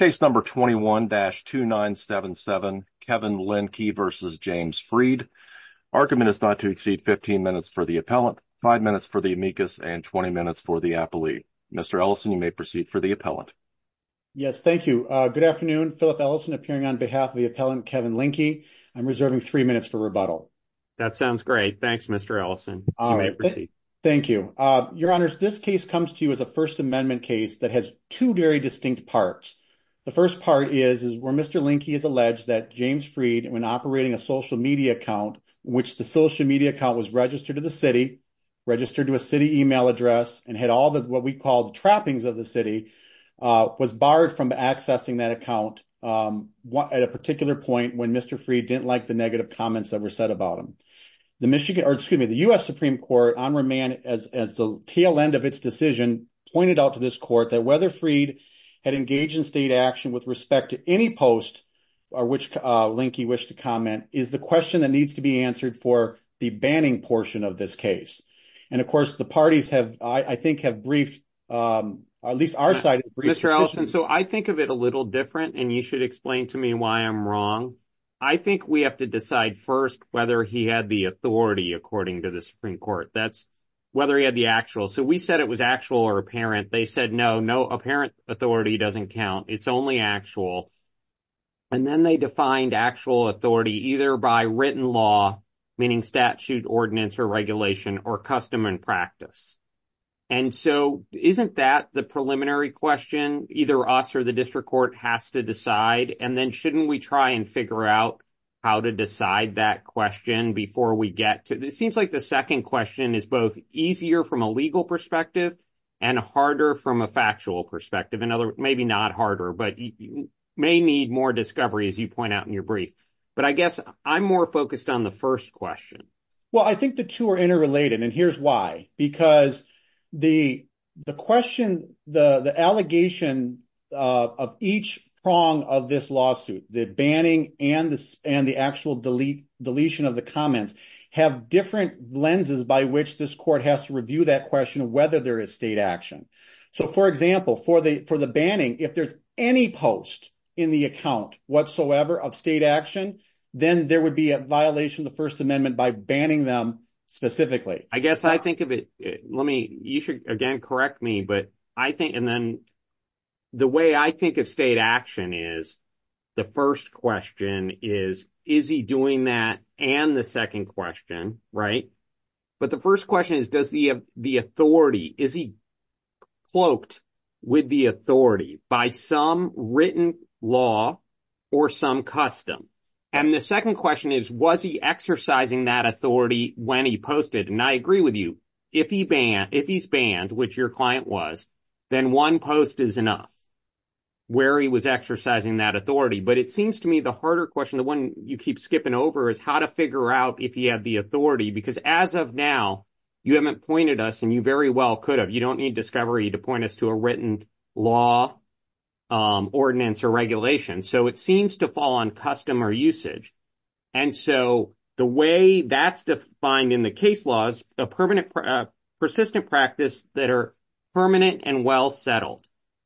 Case number 21-2977, Kevin Lindke v. James Freed. Argument is not to exceed 15 minutes for the appellant, 5 minutes for the amicus, and 20 minutes for the appellee. Mr. Ellison, you may proceed for the appellant. Yes, thank you. Good afternoon. Philip Ellison, appearing on behalf of the appellant Kevin Lindke. I'm reserving 3 minutes for rebuttal. That sounds great. Thanks, Mr. Ellison. You may proceed. Thank you. Your Honors, this case comes to you as a First Amendment case that has two very distinct parts. The first part is where Mr. Lindke has alleged that James Freed, when operating a social media account, which the social media account was registered to the city, registered to a city email address, and had all the, what we call the trappings of the city, was barred from accessing that account at a particular point when Mr. Freed didn't like the negative comments that were said about him. The Michigan, or excuse me, the U.S. Supreme Court, as the tail end of its decision, pointed out to this court that whether Freed had engaged in state action with respect to any post, or which link you wish to comment, is the question that needs to be answered for the banning portion of this case. And of course, the parties have, I think, have briefed, at least our side, Mr. Ellison, so I think of it a little different, and you should explain to me why I'm wrong. I think we have to decide first whether he had the authority, according to the Supreme Court. That's whether he had the actual. So we said it was actual or apparent. They said, no, no apparent authority doesn't count. It's only actual. And then they defined actual authority either by written law, meaning statute, ordinance, or regulation, or custom and practice. And so isn't that the preliminary question? Either us or the district court has to decide, and then shouldn't we try and figure out how to decide that question before we get to, it seems like the second question is both easier from a legal perspective and harder from a factual perspective. In other words, maybe not harder, but you may need more discovery, as you point out in your brief. But I guess I'm more focused on the first question. Well, I think the two are interrelated, and here's why. Because the question, the allegation of each prong of this banning and the actual deletion of the comments have different lenses by which this court has to review that question of whether there is state action. So for example, for the banning, if there's any post in the account whatsoever of state action, then there would be a violation of the First Amendment by banning them specifically. I guess I think of it, let me, you should again correct me, but I think, and then the way I think of state action is the first question is, is he doing that? And the second question, right? But the first question is, does the authority, is he cloaked with the authority by some written law or some custom? And the second question is, was he exercising that authority when he posted? And I agree with you. If he banned, if he's banned, which your client was, then one post is enough where he was exercising that authority. But it seems to me the harder question, the one you keep skipping over, is how to figure out if he had the authority. Because as of now, you haven't pointed us, and you very well could have. You don't need discovery to point us to a written law, ordinance, or regulation. So it seems to fall on custom or usage. And so the way that's defined in the case law is a persistent practice that are permanent and well settled.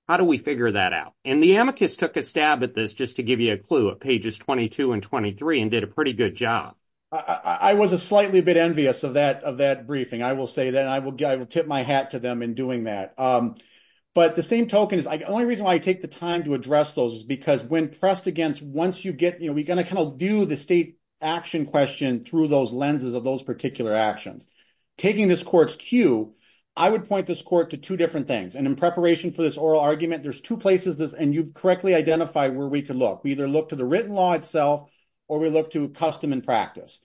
How do we figure that out? And the amicus took a stab at this, just to give you a clue, at pages 22 and 23, and did a pretty good job. I was a slightly a bit envious of that briefing. I will say that, and I will tip my hat to them in doing that. But the same token is, the only reason why I take the time to address those is because when pressed against, once you kind of view the state action question through those lenses of those particular actions. Taking this court's cue, I would point this court to two different things. And in preparation for this oral argument, there's two places, and you've correctly identified where we could look. We either look to the written law itself, or we look to custom and practice.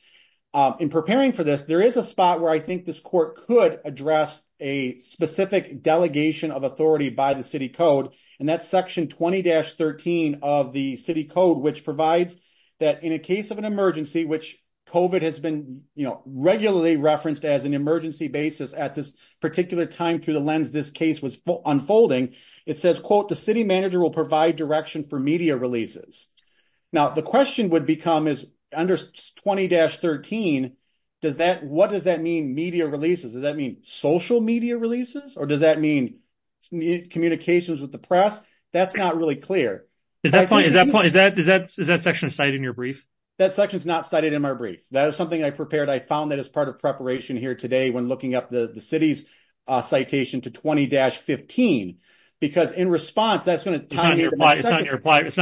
In preparing for this, there is a spot where I think this court could address a specific delegation of authority by code. And that's section 20-13 of the city code, which provides that in a case of an emergency, which COVID has been regularly referenced as an emergency basis at this particular time through the lens this case was unfolding, it says, quote, the city manager will provide direction for media releases. Now, the question would become is under 20-13, what does that mean, media releases? Does that mean social media releases? Or does that mean communications with the press? That's not really clear. Is that section cited in your brief? That section is not cited in my brief. That is something I prepared. I found that as part of preparation here today when looking up the city's citation to 20-15. Because in response, that's going to tell you why it's not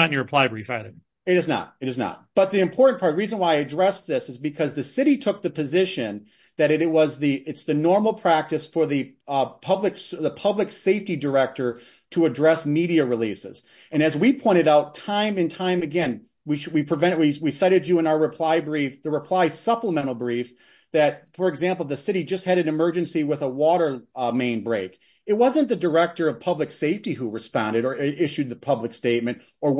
in your reply brief item. It is not. It is not. But the important part, the reason why I addressed this is because the city took the position that it's the normal practice for the public safety director to address media releases. And as we pointed out time and time again, we cited you in our reply brief, the reply supplemental brief, that, for example, the city just had an emergency with a water main break. It wasn't the director of public safety who responded or issued the public statement or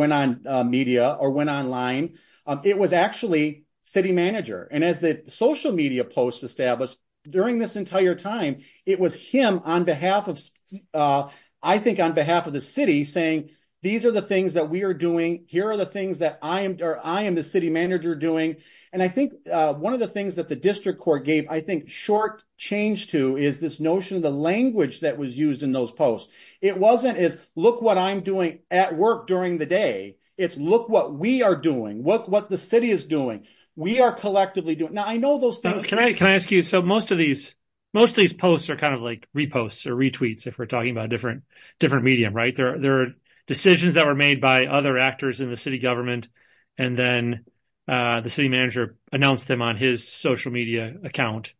media or went online. It was actually city manager. And as the social media posts established during this entire time, it was him, I think, on behalf of the city saying, these are the things that we are doing. Here are the things that I am the city manager doing. And I think one of the things that the district court gave, I think, short change to is this notion of the language that was used in those posts. It wasn't as, look what I'm doing at work during the day. It's look what we are doing, what the city is doing. We are collectively doing. Now, I know those things. Can I ask you, so most of these posts are kind of like reposts or retweets, if we're talking about different media, right? There are decisions that were made by other actors in the city government. And then the city manager announced them on his social media account.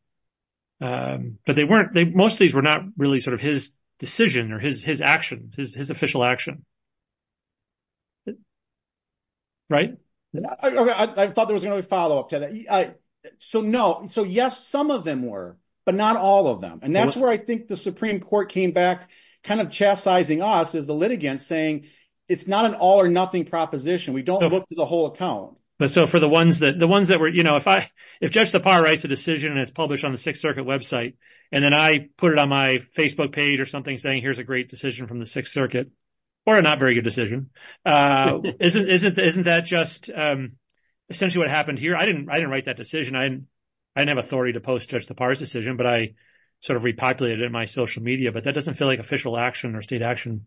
But they weren't, most of these were not really sort of his decision or his actions, his official action, right? I thought there was another follow-up to that. So no, so yes, some of them were, but not all of them. And that's where I think the Supreme Court came back kind of chastising us as the litigants saying, it's not an all or nothing proposition. We don't look to the whole account. But so for the ones that, the ones that were, you know, if I, if Judge Lepar writes a decision and it's published on the Sixth Circuit website, and then I put it on my Facebook page or something saying, here's a great decision from the Sixth Circuit, or a not very good decision. Isn't that just essentially what happened here? I didn't write that decision. I didn't have authority to post Judge Lepar's decision, but I sort of repopulated it in my social media. But that doesn't feel like official action or state action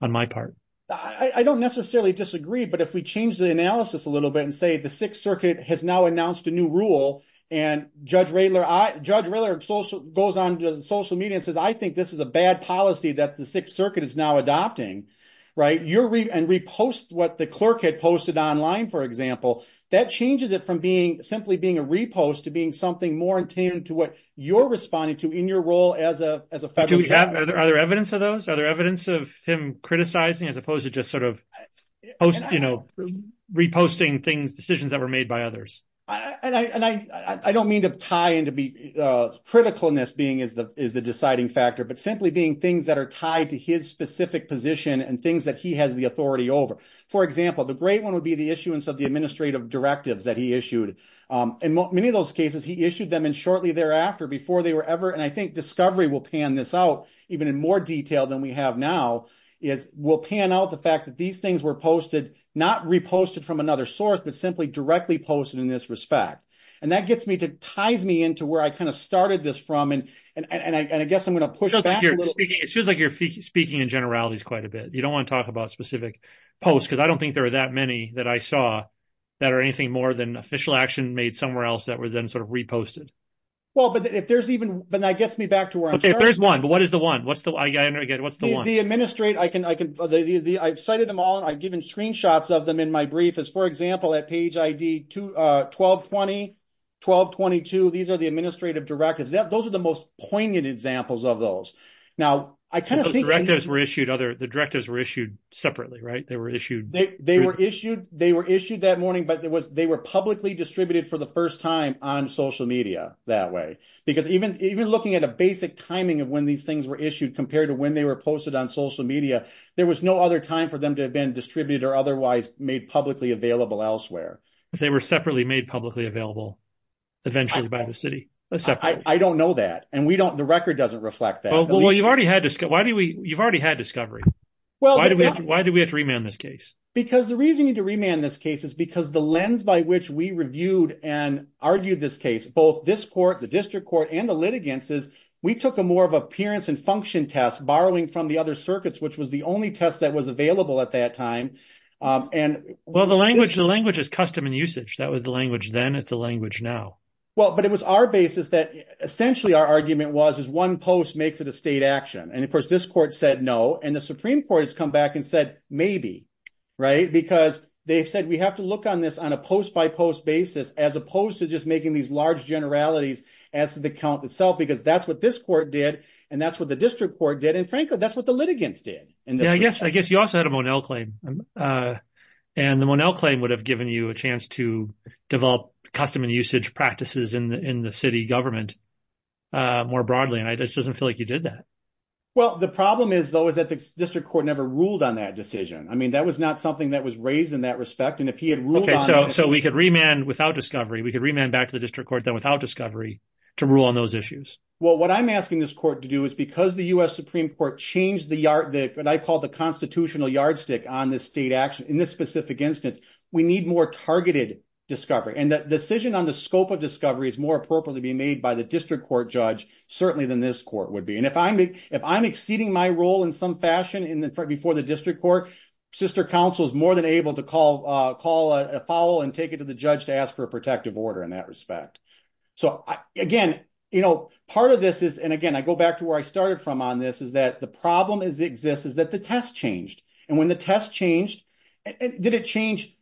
on my part. I don't necessarily disagree, but if we change the analysis a little bit and say the Sixth Circuit has now announced a new rule and Judge Rayler, Judge Rayler goes on social media and says, I think this is a bad policy that the Sixth Circuit is now adopting, right? And repost what the clerk had posted online, for example, that changes it from being simply being a repost to being something more in tune to what you're responding to in your role as a, as a federal judge. Are there evidence of those? Are there evidence of him criticizing as opposed to just sort of, you know, reposting things, decisions that were made by others? I don't mean to tie into be critical in this being is the, is the deciding factor, but simply being things that are tied to his specific position and things that he has the authority over. For example, the great one would be the issuance of the administrative directives that he issued. In many of those cases, he issued them and shortly thereafter before they were ever, and I think Discovery will pan this out even in more detail than we have now, is we'll pan out the fact that these things were posted, not reposted from another source, but simply directly posted in this respect. And that gets me to ties me into where I kind of started this from. And, and I, and I guess I'm going to push back a little bit. It feels like you're speaking in generalities quite a bit. You don't want to talk about specific posts. Cause I don't think there are that many that I saw that are anything more than official action made somewhere else that were then sort of reposted. Well, but if there's even, but that gets me back to where I'm starting. Okay. If there's one, but what is the one? What's the, what's the one? The administrate, I can, I can, I've cited them all and I've given screenshots of them in my brief as for example, at page ID two, uh, 12, 20, 12, 22, these are the administrative directives. Those are the most poignant examples of those. Now I kind of think. Those directives were issued other, the directives were issued separately, right? They were issued. They were issued, they were issued that morning, but there was, they were publicly distributed for the first time on social media that way. Because even, even looking at a basic timing of when these things were issued compared to when they were posted on social media, there was no other time for them to have been distributed or otherwise made publicly available elsewhere. If they were separately made publicly available eventually by the city. I don't know that. And we don't, the record doesn't reflect that. Well, you've already had this. Why do we, you've already had discovery. Well, why do we have to remand this case? Because the reason you need to remand this case is because the lens by which we reviewed and argued this case, both this court, the district court and the litigants is we took a more of appearance and function tests borrowing from the other circuits, which was the only test that was available at that time. And well, the language, the language is custom and usage. That was the language. Then it's a language now. Well, but it was our basis that essentially our argument was, is one post makes it a state action. And of course this court said no. And the Supreme court has come back and said, maybe, right? Because they've said, we have to look on this on a post by post basis, as opposed to just making these large generalities as to the count itself, because that's what this court did. And that's what the district court did. And frankly, that's what the litigants did. And I guess, I guess you also had a Monell claim and the Monell claim would have given you a chance to develop custom and usage practices in the, in the city government more broadly. And I just doesn't feel like you did that. Well, the problem is though, is that the district court never ruled on that decision. I mean, that was not something that was raised in that respect. And if he had ruled on it. So we could remand without discovery. We could remand back to the district court then without discovery to rule on those issues. Well, what I'm asking this court to do is because the U.S. Supreme court changed the yard, the, what I call the constitutional yardstick on this state action in this specific instance, we need more targeted discovery. And that decision on the scope of discovery is more appropriate to be made by the district court judge, certainly than this court would be. And if I'm, if I'm exceeding my role in some fashion in the front, before the district court, sister council is more than able to call, call a foul and take it to the judge to ask for a protective order in that respect. So again, you know, part of this is, and again, I go back to where I started from on this is that the problem is exists is that the test changed. And when the test changed, did it change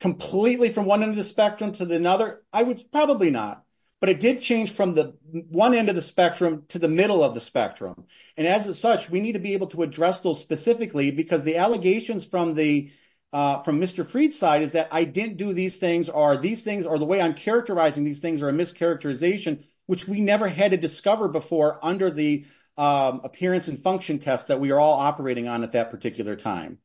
completely from one end of the spectrum to the another? I would probably not, but it did change from the one end of the spectrum to the middle of the spectrum. And as such, we need to be able to address those specifically because the allegations from the, from Mr. Freed's side is that I didn't do these things are these things are the way I'm characterizing these things are a mischaracterization, which we never had to discover before under the appearance and function tests that we are all operating on at that particular time.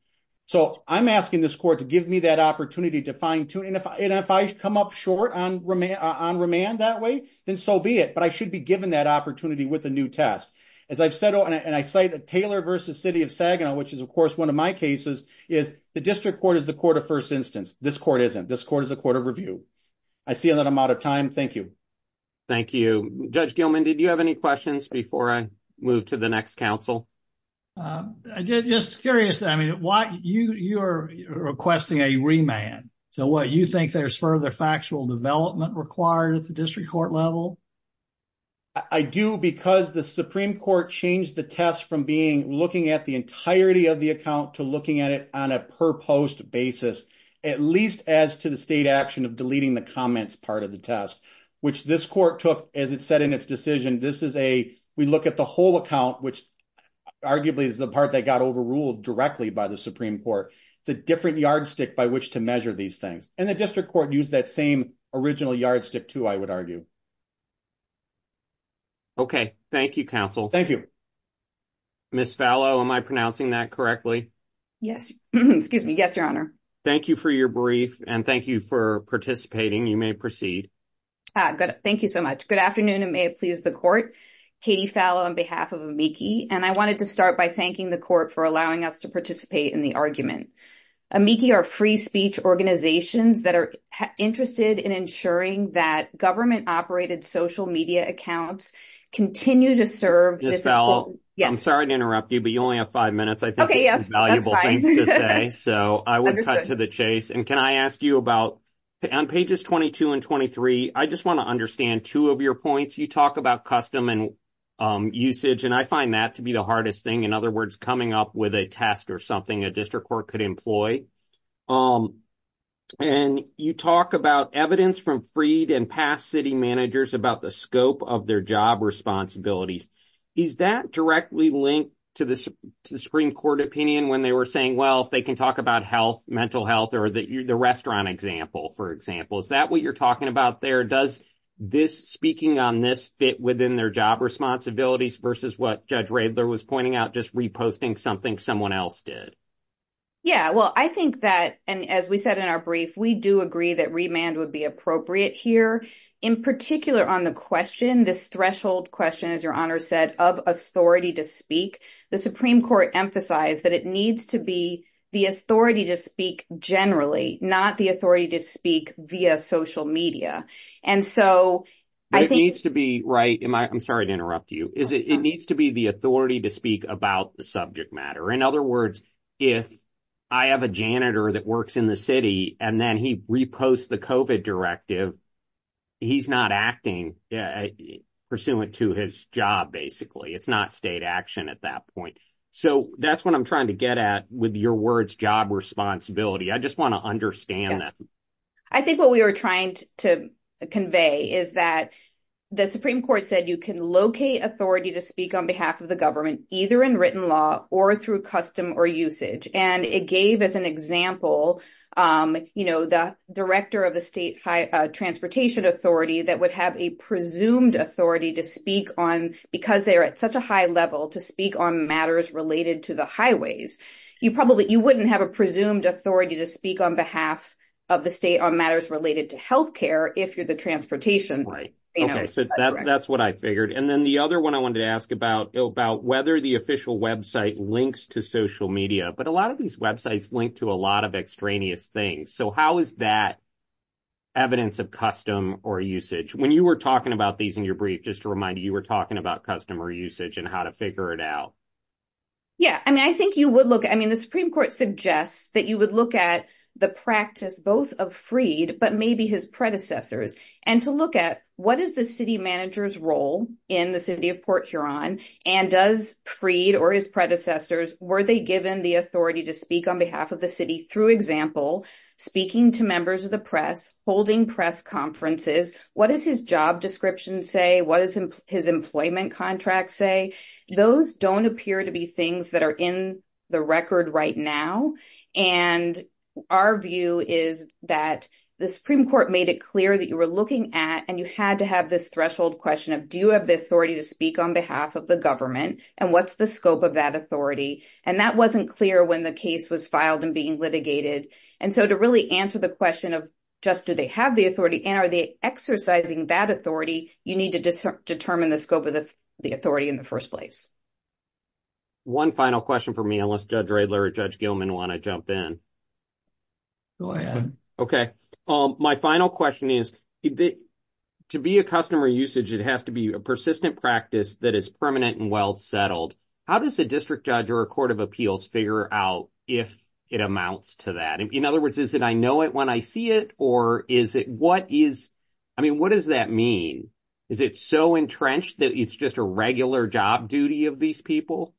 So I'm asking this court to give me that opportunity to fine tune. And if I come up short on remand that way, then so be it, but I should be given that opportunity with a new test. As I've said, and I cite a Taylor versus city of Saginaw, which is of course, one of my cases is the district court is the court of first instance. This court isn't, this court is a court of review. I see that I'm out of time. Thank you. Thank you, Judge Gilman. Did you have any questions before I move to the next council? Just curious. I mean, why you, you are requesting a remand. So what you think there's further factual development required at the district court level? I do because the Supreme court changed the test from being looking at the entirety of the account to looking at it on a per post basis, at least as to the state action of deleting the comments, part of the test, which this court took, as it said in its decision, this is a, we look at the whole account, which arguably is the part that got overruled directly by the Supreme court, the different yardstick by which to measure these things. And the district court used that same original yardstick too, I would argue. Okay. Thank you counsel. Thank you. Ms. Fallow, am I pronouncing that correctly? Yes. Excuse me. Yes, your honor. Thank you for your brief and thank you for participating. You may proceed. Thank you so much. Good afternoon. And may it please the court, Katie Fallow on behalf of Amici. And I wanted to start by thanking the court for allowing us to participate in the argument. Amici are free speech organizations that are interested in ensuring that government operated social media accounts continue to serve. Ms. Fallow, I'm sorry to interrupt you, but you only have five minutes. I think valuable things to say. So I would cut to the chase. And can I ask you about on pages 22 and 23, I just want to understand two of your points. You talk about custom and usage. And I find that to be the hardest thing. In other words, coming up with a test or something a district court could employ. And you talk about evidence from freed and past city managers about the scope of their job responsibilities. Is that directly linked to the Supreme Court opinion when they were saying, well, if they can talk about health, mental health or the restaurant example, for example, is that what you're talking about there? Does this speaking on this fit within their job responsibilities versus what Judge Raebler was pointing out, just reposting something someone else did? Yeah, well, I think that and as we said in our brief, we do agree that remand would be appropriate here, in particular on the question, this threshold question, as your honor said, of authority to speak. The Supreme Court emphasized that it needs to be the authority to speak generally, not the authority to speak via social media. And so it needs to be right. I'm sorry to interrupt you. It needs to be the authority to speak about the subject matter. In other words, if I have a janitor that works in the city and then he reposts the COVID directive, he's not acting pursuant to his job, basically. It's not state action at that point. So that's what I'm trying to get at with your words, job responsibility. I just want to understand that. I think what we were trying to convey is that the Supreme Court said you can locate authority to speak on behalf of the government, either in written law or through custom or usage. And it gave as an example, you know, the director of the state high transportation authority that would have a presumed authority to speak on because they're at such a high level to speak on matters related to the highways. You probably you wouldn't have a presumed authority to speak on behalf of the state on matters related to health care if you're the transportation. Right. So that's what I figured. And then the other one I wanted to ask about, about whether the official website links to social media. But a lot of these websites link to a lot of extraneous things. So how is that evidence of custom or usage? When you were talking about these in your brief, just to remind you, you were talking about customer usage and how to figure it out. Yeah, I mean, I think you would look, I mean, the Supreme Court suggests that you would look at the practice, both of Freed, but maybe his predecessors and to look at what is the city manager's role in the city of Port Huron and does Freed or his predecessors, were they given the authority to speak on behalf of the city through example, speaking to members of the press, holding press conferences? What is his job description say? What is his employment contract say? Those don't appear to be things that are in the record right now. And our view is that the Supreme Court made it clear that you were looking at, and you had to have this threshold question of, do you have the authority to speak on behalf of the government? And what's the scope of that authority? And that wasn't clear when the case was filed and being litigated. And so to really answer the question of just do they have the authority and are they exercising that authority, you need to determine the scope of the authority in the first place. One final question for me, unless Judge Radler or Judge Gilman want to jump in. Go ahead. Okay. My final question is, to be a customer usage, it has to be a persistent practice that is permanent and well settled. How does a district judge or a court of appeals figure out if it amounts to that? In other words, is it, I know it when I see it, or is it, what is, I mean, what does that mean? Is it so entrenched that it's just a regular job duty of these people?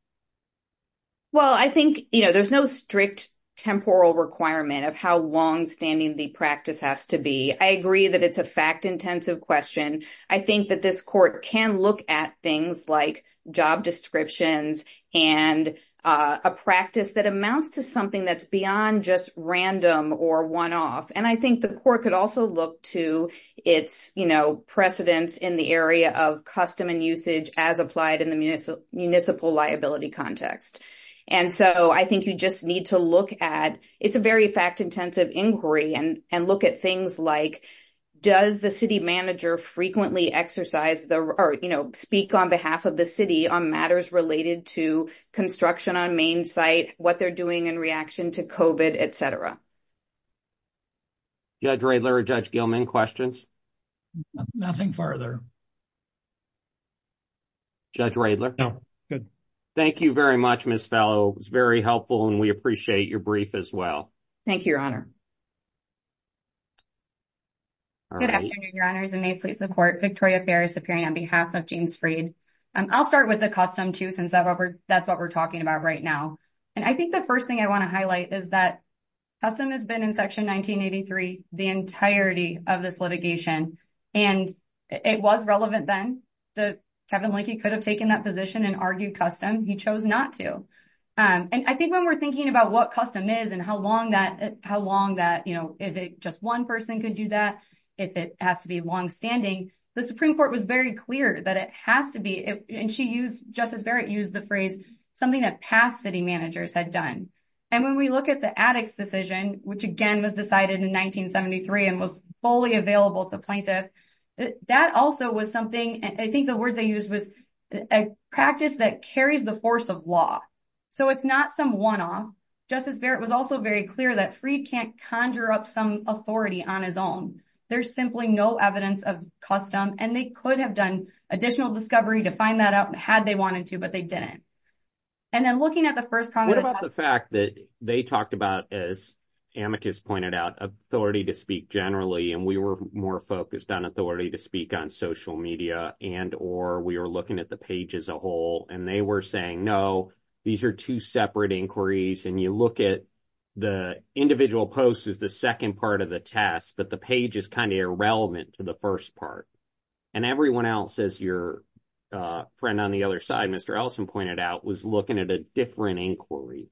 Well, I think, you know, there's no strict temporal requirement of how longstanding the practice has to be. I agree that it's a fact-intensive question. I think that this court can look at things like job descriptions and a practice that amounts to something that's beyond just random or one-off. And I think the court could also look to its, you know, precedence in the area of custom and usage as applied in the municipal liability context. And so, I think you just need to look at, it's a very fact-intensive inquiry and look at things like, does the city manager frequently exercise the, or, you know, speak on behalf of the city on matters related to construction on main site, what they're doing in reaction to COVID, et cetera. Judge Radler or Judge Gilman, questions? Nothing further. Judge Radler. Thank you very much, Ms. Fellow. It was very helpful and we appreciate your brief as well. Thank you, Your Honor. Good afternoon, Your Honors, and may it please the court, Victoria Ferris appearing on behalf of James Freed. I'll start with the custom too, since that's what we're talking about right now. And I think the first thing I want to highlight is that custom has been in Section 1983, the entirety of this litigation, and it was relevant then. Kevin Linkey could have taken that position and argued custom. He chose not to. And I think when we're thinking about what custom is and how long that, you know, if just one person could do that, if it has to be longstanding, the Supreme Court was very clear that it has to be, and Justice Barrett used the phrase, something that past city managers had done. And when we look at the addicts' decision, which again was decided in 1973 and was fully available to plaintiff, that also was something, I think the words they used was, a practice that carries the force of law. So it's not some one-off. Justice Barrett was also very clear that Freed can't conjure up some authority on his own. There's simply no evidence of custom, and they could have done additional discovery to find that out had they wanted to, but they didn't. And then looking at the first problem- they talked about, as Amicus pointed out, authority to speak generally, and we were more focused on authority to speak on social media and, or we were looking at the page as a whole, and they were saying, no, these are two separate inquiries. And you look at the individual post as the second part of the test, but the page is kind of irrelevant to the first part. And everyone else, as your friend on the other side, Mr. Elson pointed out, was looking at a different inquiry.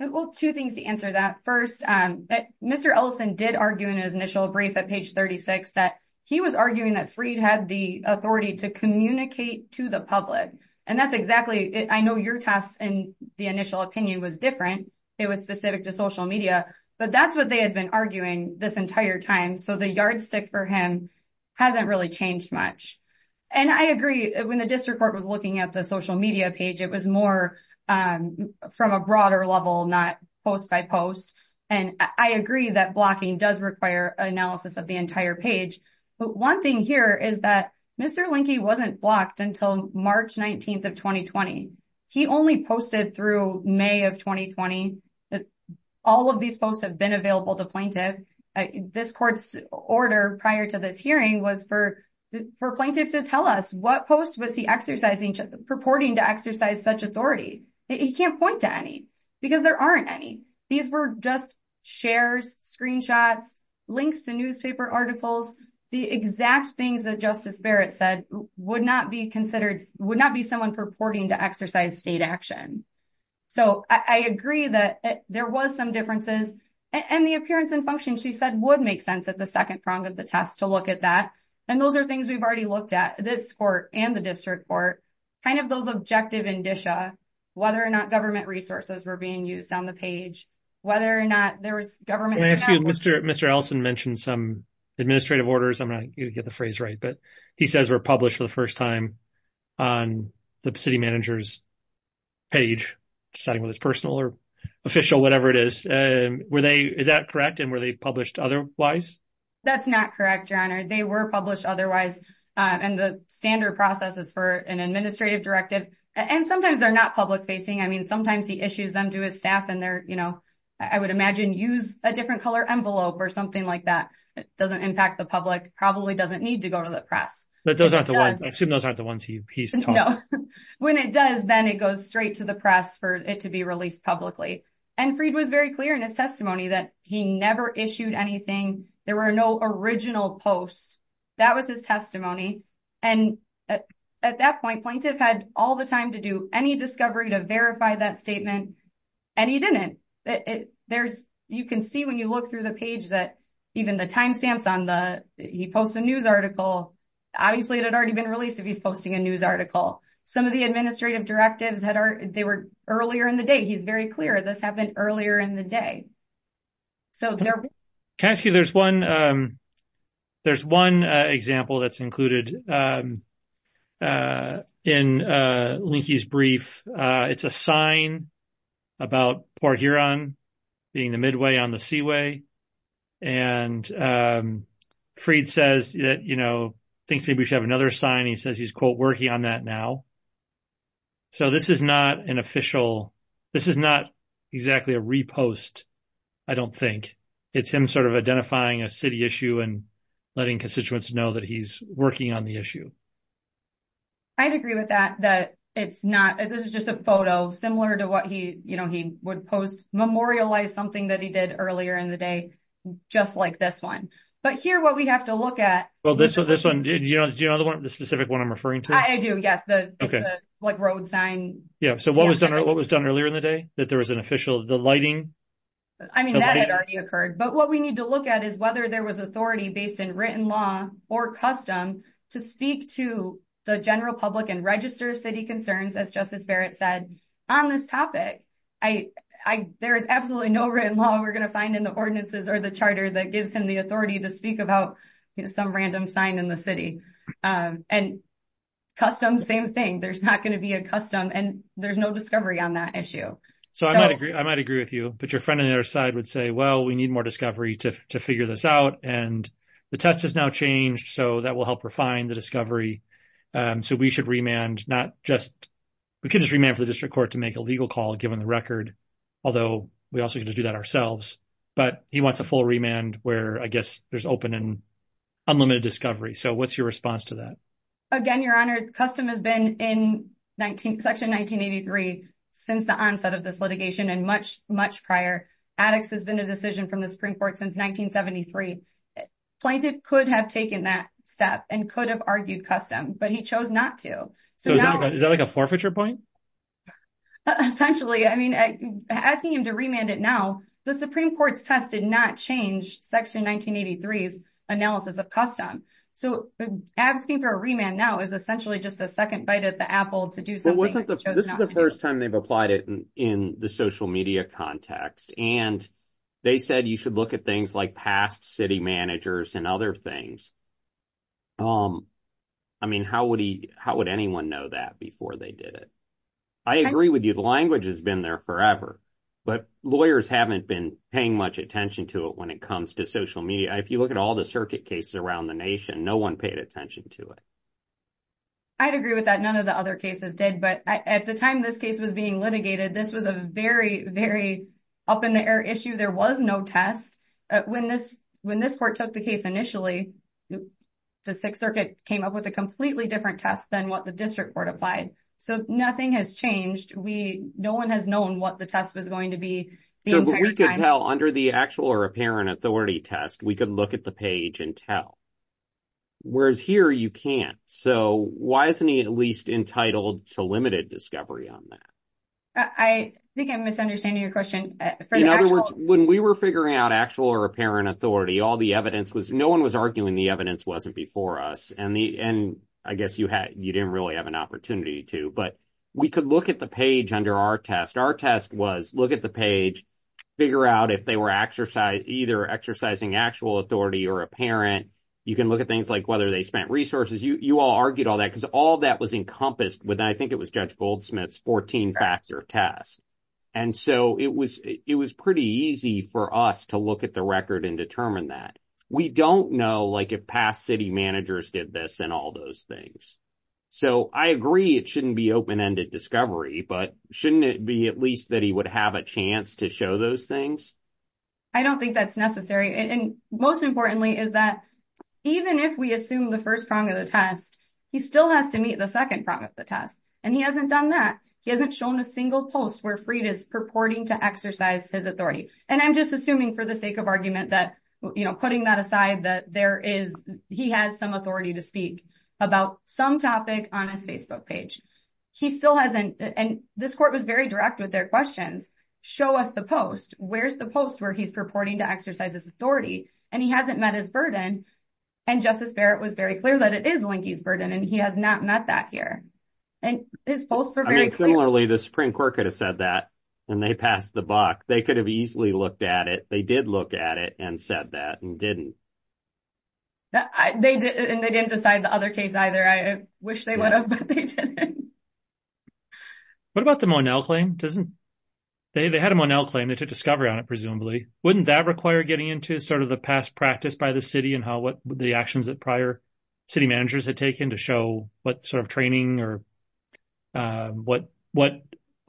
Well, two things to answer that. First, Mr. Elson did argue in his initial brief at page 36 that he was arguing that Freed had the authority to communicate to the public. And that's exactly, I know your test in the initial opinion was different. It was specific to social media, but that's what they had been arguing this entire time. So the yardstick for him hasn't really changed much. And I agree, when the district court was looking at the social media page, it was more from a broader level, not post by post. And I agree that blocking does require analysis of the entire page. But one thing here is that Mr. Linke wasn't blocked until March 19th of 2020. He only posted through May of 2020. All of these posts have been available to plaintiff. This court's order prior to this hearing was for plaintiff to tell us what post exercising, purporting to exercise such authority. He can't point to any because there aren't any. These were just shares, screenshots, links to newspaper articles. The exact things that Justice Barrett said would not be considered, would not be someone purporting to exercise state action. So I agree that there was some differences and the appearance and function she said would make sense at the second prong of the test to look at that. And those are things we've already looked at this court and the district court, kind of those objective indicia, whether or not government resources were being used on the page, whether or not there was government... Can I ask you, Mr. Ellison mentioned some administrative orders. I'm not going to get the phrase right, but he says were published for the first time on the city manager's page, deciding whether it's personal or official, whatever it is. Is that correct? And were they published otherwise? That's not correct, John. They were published otherwise. And the standard process is for an administrative directive. And sometimes they're not public facing. I mean, sometimes he issues them to his staff and they're, you know, I would imagine use a different color envelope or something like that. It doesn't impact the public, probably doesn't need to go to the press. But those aren't the ones, I assume those aren't the ones he's talking about. No. When it does, then it goes straight to the press for it to be released publicly. And Freed was very clear in his testimony that he never issued anything. There were no original posts. That was his testimony. And at that point, plaintiff had all the time to do any discovery to verify that statement. And he didn't. You can see when you look through the page that even the timestamps on the... He posts a news article. Obviously, it had already been released if he's posting a news article. Some of the administrative directives, they were earlier in the day. He's very clear this happened earlier in the day. So there... Can I ask you, there's one example that's included in Linky's brief. It's a sign about Port Huron being the midway on the seaway. And Freed says that, you know, thinks maybe we should have another sign. He says he's, quote, working on that now. So this is not an official... This is not exactly a repost, I don't think. It's him sort of identifying a city issue and letting constituents know that he's working on the issue. I'd agree with that, that it's not... This is just a photo similar to what he would post, memorialize something that he did earlier in the day, just like this one. But here, what we have to look at... Well, this one... Do you know the specific one I'm referring to? I do, yes. It's the road sign. Yeah. So what was done earlier in the day, that there was an official... The lighting? I mean, that had already occurred. But what we need to look at is whether there was authority based in written law or custom to speak to the general public and register city concerns, as Justice Barrett said, on this topic. There is absolutely no written law we're going to find in the ordinances or the charter that gives him the authority to speak about some random sign in the city. And custom, same thing. There's not going to be a custom and there's no discovery on that issue. So I might agree with you, but your friend on the other side would say, well, we need more discovery to figure this out. And the test has now changed, so that will help refine the discovery. So we should remand, not just... We could just remand for the district court to make a legal call, given the record, although we also could just do that ourselves. But he wants a full remand where, I guess, there's open and unlimited discovery. So what's your response to that? Again, Your Honor, custom has been in Section 1983 since the onset of this litigation and much, much prior. Addicts has been a decision from the Supreme Court since 1973. Plaintiff could have taken that step and could have argued custom, but he chose not to. So is that like a forfeiture point? Essentially. I mean, asking him to remand it now, the Supreme Court's test did not change Section 1983's analysis of custom. So asking for a remand now is essentially just a second bite at the apple to do something... But this is the first time they've applied it in the social media context. And they said you should look at things like past city managers and other things. I mean, how would anyone know that before they did it? I agree with you. The language has been there forever, but lawyers haven't been paying much attention to it when it comes to social media. If you look at all the circuit cases around the nation, no one paid attention to it. I'd agree with that. None of the other cases did. But at the time this case was being litigated, this was a very, very up in the air issue. There was no test. When this court took the case initially, the Sixth Circuit came up with a completely different test than what the District Court applied. So nothing has changed. No one has known what the test was going to be. So we could tell under the actual or apparent authority test, we could look at the page and tell. Whereas here you can't. So why isn't he at least entitled to limited discovery on that? I think I'm misunderstanding your question. In other words, when we were figuring out actual or apparent authority, all the evidence was... No one was arguing the evidence wasn't before us. And I guess you didn't really have an opportunity to. But we could look at the page under our test. Our test was look at the page, figure out if they were either exercising actual authority or apparent. You can look at things like whether they spent resources. You all argued all that because all that was encompassed with, I think it was Judge Goldsmith's 14-factor test. And so it was pretty easy for us to look at the record and determine that. We don't know if past city managers did this and all those things. So I agree it shouldn't be open-ended discovery, but shouldn't it be at least that he would have a chance to show those things? I don't think that's necessary. And most importantly is that even if we assume the first prong of the test, he still has to meet the second prong of the test. And he hasn't done that. He hasn't shown a single post where Freed is purporting to exercise his authority. And I'm just assuming for the sake of argument that putting that aside, that he has some authority to speak about some topic on his Facebook page. He still hasn't. And this court was very direct with their questions. Show us the post. Where's the post where he's purporting to exercise his authority? And he hasn't met his burden. And Justice Barrett was very clear that it is Linkey's burden and he has not met that here. And his posts are very clear. Similarly, the Supreme Court could have said that and they passed the buck. They could have looked at it. They did look at it and said that and didn't. They didn't. And they didn't decide the other case either. I wish they would have, but they didn't. What about the Monell claim? They had a Monell claim. They took discovery on it, presumably. Wouldn't that require getting into sort of the past practice by the city and how the actions that prior city managers had taken to show what sort of training or what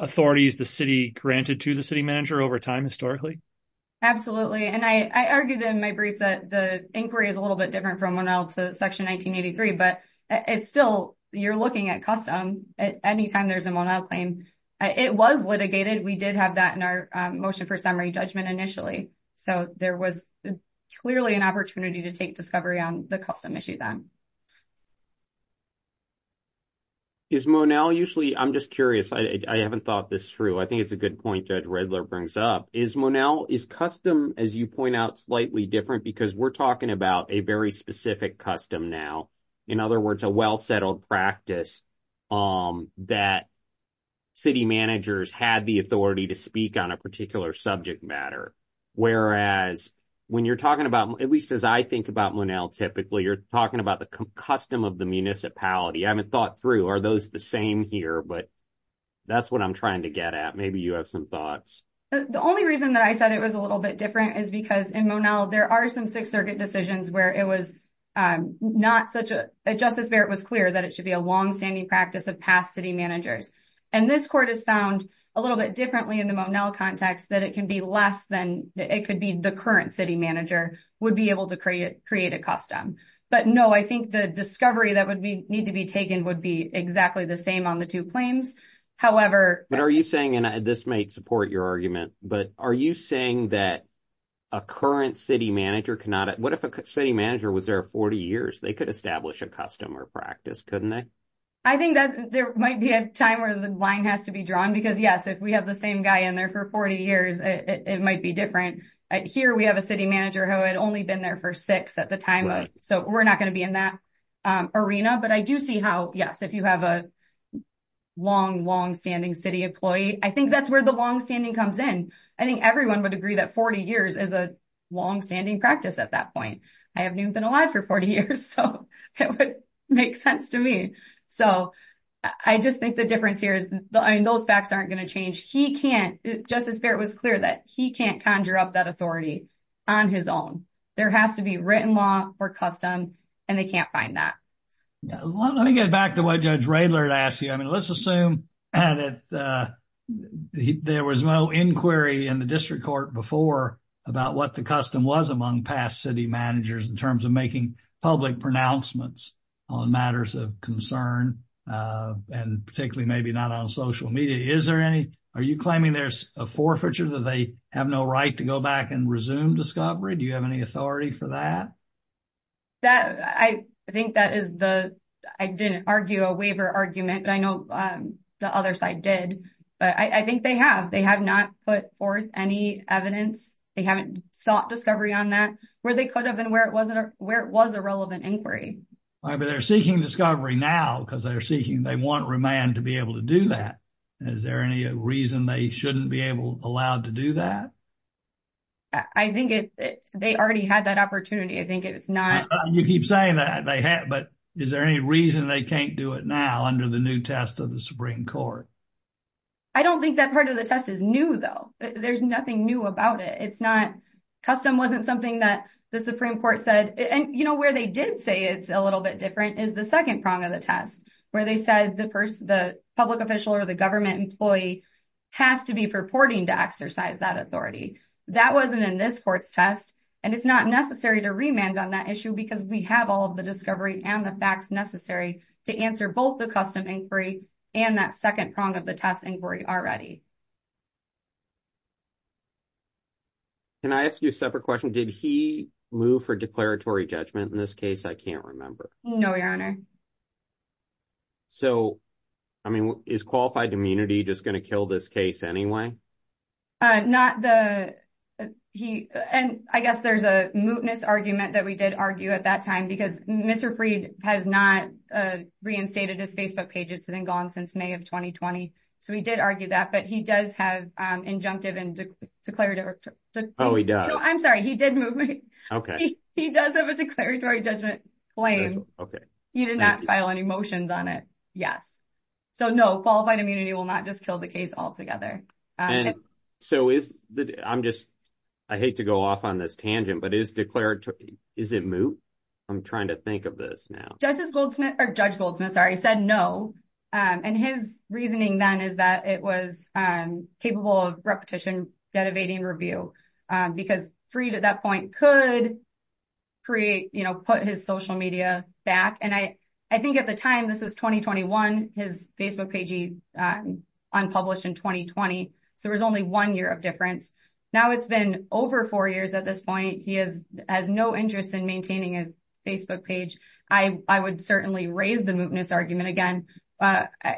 authorities the city manager over time historically? Absolutely. And I argued in my brief that the inquiry is a little bit different from Monell to Section 1983, but it's still, you're looking at custom anytime there's a Monell claim. It was litigated. We did have that in our motion for summary judgment initially. So there was clearly an opportunity to take discovery on the custom issue then. Is Monell usually, I'm just curious, I haven't thought this through. I think it's a good point, Judge Riddler brings up. Is Monell, is custom, as you point out, slightly different? Because we're talking about a very specific custom now. In other words, a well-settled practice that city managers had the authority to speak on a particular subject matter. Whereas when you're talking about, at least as I think about Monell typically, you're talking about the custom of the municipality. I haven't thought through, are those the same here? But that's what I'm trying to get at. Maybe you have some thoughts. The only reason that I said it was a little bit different is because in Monell, there are some Sixth Circuit decisions where it was not such a, Justice Barrett was clear that it should be a long-standing practice of past city managers. And this court has found a little bit differently in the Monell context that it can be less than, it could be the current city manager would be able to create a custom. But no, I think the discovery that would need to be taken would be exactly the same on the two claims. However... But are you saying, and this might support your argument, but are you saying that a current city manager cannot... What if a city manager was there 40 years? They could establish a custom or practice, couldn't they? I think that there might be a time where the line has to be drawn. Because yes, if we have the same guy in there for 40 years, it might be different. Here, we have a city manager who had only been there for six at the time of... So we're not going to be in that arena, but I do see how, yes, if you have a long, long-standing city employee, I think that's where the long-standing comes in. I think everyone would agree that 40 years is a long-standing practice at that point. I haven't even been alive for 40 years, so it would make sense to me. So I just think the difference here is those facts aren't going to change. He can't, Justice Barrett was clear that he can't conjure up that authority on his own. There has to be custom, and they can't find that. Let me get back to what Judge Raylard asked you. Let's assume there was no inquiry in the district court before about what the custom was among past city managers in terms of making public pronouncements on matters of concern, and particularly maybe not on social media. Are you claiming there's a forfeiture that they have no right to go back resume discovery? Do you have any authority for that? I think that is the... I didn't argue a waiver argument, but I know the other side did, but I think they have. They have not put forth any evidence. They haven't sought discovery on that where they could have and where it was a relevant inquiry. All right, but they're seeking discovery now because they want Remand to be able to do that. Is there any reason they shouldn't be allowed to do that? I think they already had that opportunity. I think it's not... You keep saying that, but is there any reason they can't do it now under the new test of the Supreme Court? I don't think that part of the test is new, though. There's nothing new about it. Custom wasn't something that the Supreme Court said, and where they did say it's a little bit different is the second prong of the test, where they said the public official or the government employee has to be purporting to exercise that authority. That wasn't in this court's test, and it's not necessary to Remand on that issue because we have all of the discovery and the facts necessary to answer both the custom inquiry and that second prong of the test inquiry already. Can I ask you a separate question? Did he move for declaratory judgment in this case? I can't remember. No, Your Honor. So, I mean, is qualified immunity just going to kill this case anyway? I guess there's a mootness argument that we did argue at that time because Mr. Preid has not reinstated his Facebook page. It's been gone since May of 2020, so we did argue that, but he does have a declaratory judgment claim. He did not file any motions on it. Yes. So, no, qualified immunity will not just kill the case altogether. I hate to go off on this tangent, but is it moot? I'm trying to think of this now. Judge Goldsmith said no, and his reasoning then is that it was capable of repetition, dedevating review, because Preid at that point could put his social media back. I think at the time, this was 2021, his Facebook page unpublished in 2020, so there was only one year of difference. Now it's been over four years at this point. He has no interest in maintaining his Facebook page. I would certainly raise the mootness argument again.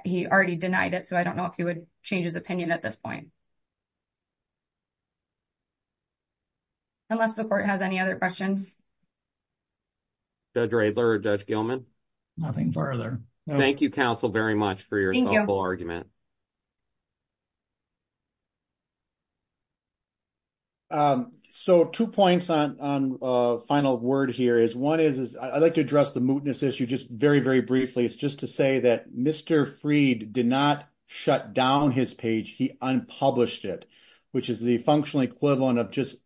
He already denied it, so I don't know if he would change his opinion at this point. Unless the court has any other questions. Judge Radler or Judge Gilman? Nothing further. Thank you, counsel, very much for your thoughtful argument. So, two points on final word here. One is, I'd like to address the mootness issue just very, very briefly. It's just to say that Mr. Preid did not shut down his page. He unpublished it, which is the functional equivalent of just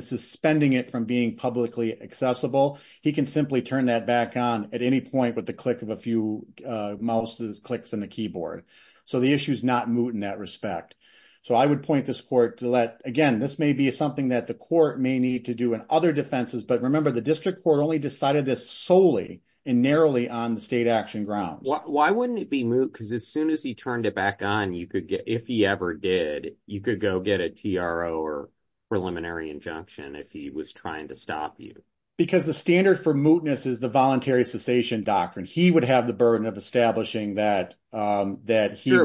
suspending it from being publicly accessible. He can simply turn that back on at any point with the click of a few mouse clicks on the keyboard. So, the issue is not moot in that respect. So, I would point this court to let, again, this may be something that the court may need to do in other defenses. But remember, the district court only decided this solely and narrowly on the state action grounds. Why wouldn't it be moot? Because as soon as he turned it back on, if he ever did, you could go get a TRO or preliminary injunction if he was trying to stop you. Because the standard for mootness is the voluntary cessation doctrine. He would have the burden of establishing that. You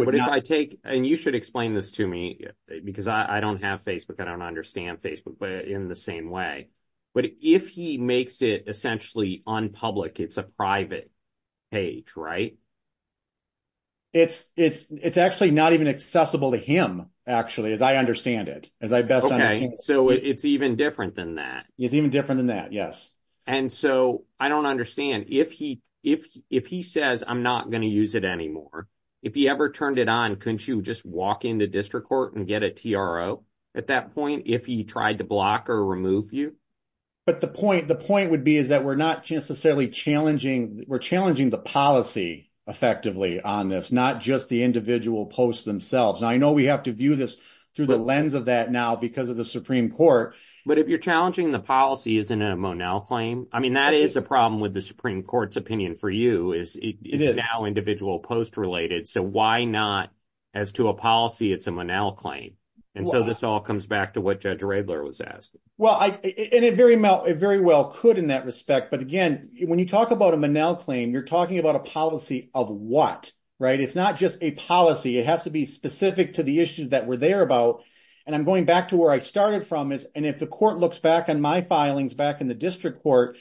should explain this to me because I don't have Facebook. I don't understand Facebook in the same way. But if he makes it essentially unpublic, it's a private page, right? It's actually not even accessible to him, actually, as I understand it. Okay. So, it's even different than that. It's even different than that. Yes. So, I don't understand. If he says, I'm not going to use it anymore, if he ever turned it on, couldn't you just walk into district court and get a TRO at that point if he tried to block or remove you? But the point would be is that we're not necessarily challenging. We're challenging the policy effectively on this, not just the individual posts themselves. I know we have to view this through the lens of that now because of the Supreme Court. But if you're challenging the policy, isn't it a Monell claim? I mean, that is a problem with the Supreme Court's opinion for you. It's now individual post related. So, why not as to a policy, it's a Monell claim? And so, this all comes back to what Judge Raebler was asking. Well, and it very well could in that respect. But again, when you talk about a Monell claim, you're talking about a policy of what, right? It's not just a policy. It has to be specific to the issues that we're there about. And I'm going back to where I started from is, and if the court looks back on my filings back in the district court,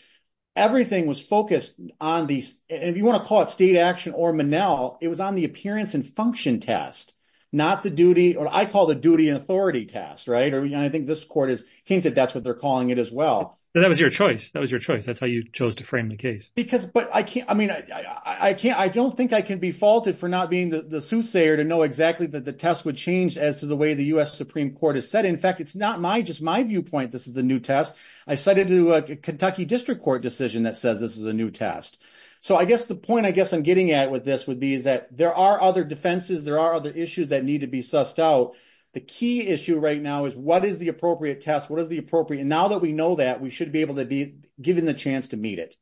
everything was focused on these, if you want to call it state action or Monell, it was on the appearance and function test, not the duty or I call the duty and authority test, right? And I think this court has hinted that's what they're calling it as well. But that was your choice. That was your choice. That's how you chose to frame the case. Because, but I can't, I mean, I don't think I can be faulted for not being the soothsayer to know exactly that the test would change as to the way the U.S. Supreme Court has said. In fact, it's not my, just my viewpoint. This is the new test. I cited to a Kentucky district court decision that says this is a new test. So I guess the point I guess I'm getting at with this would be is that there are other defenses. There are other issues that need to be sussed out. The key issue right now is what is the appropriate test? What is the appropriate? Now that we know that we should be able to be given the chance to meet it.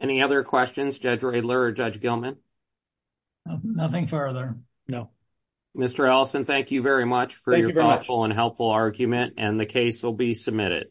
Any other questions? Judge Rayler, Judge Gilman? Nothing further. No. Mr. Allison, thank you very much for your thoughtful and helpful argument and the case will be submitted.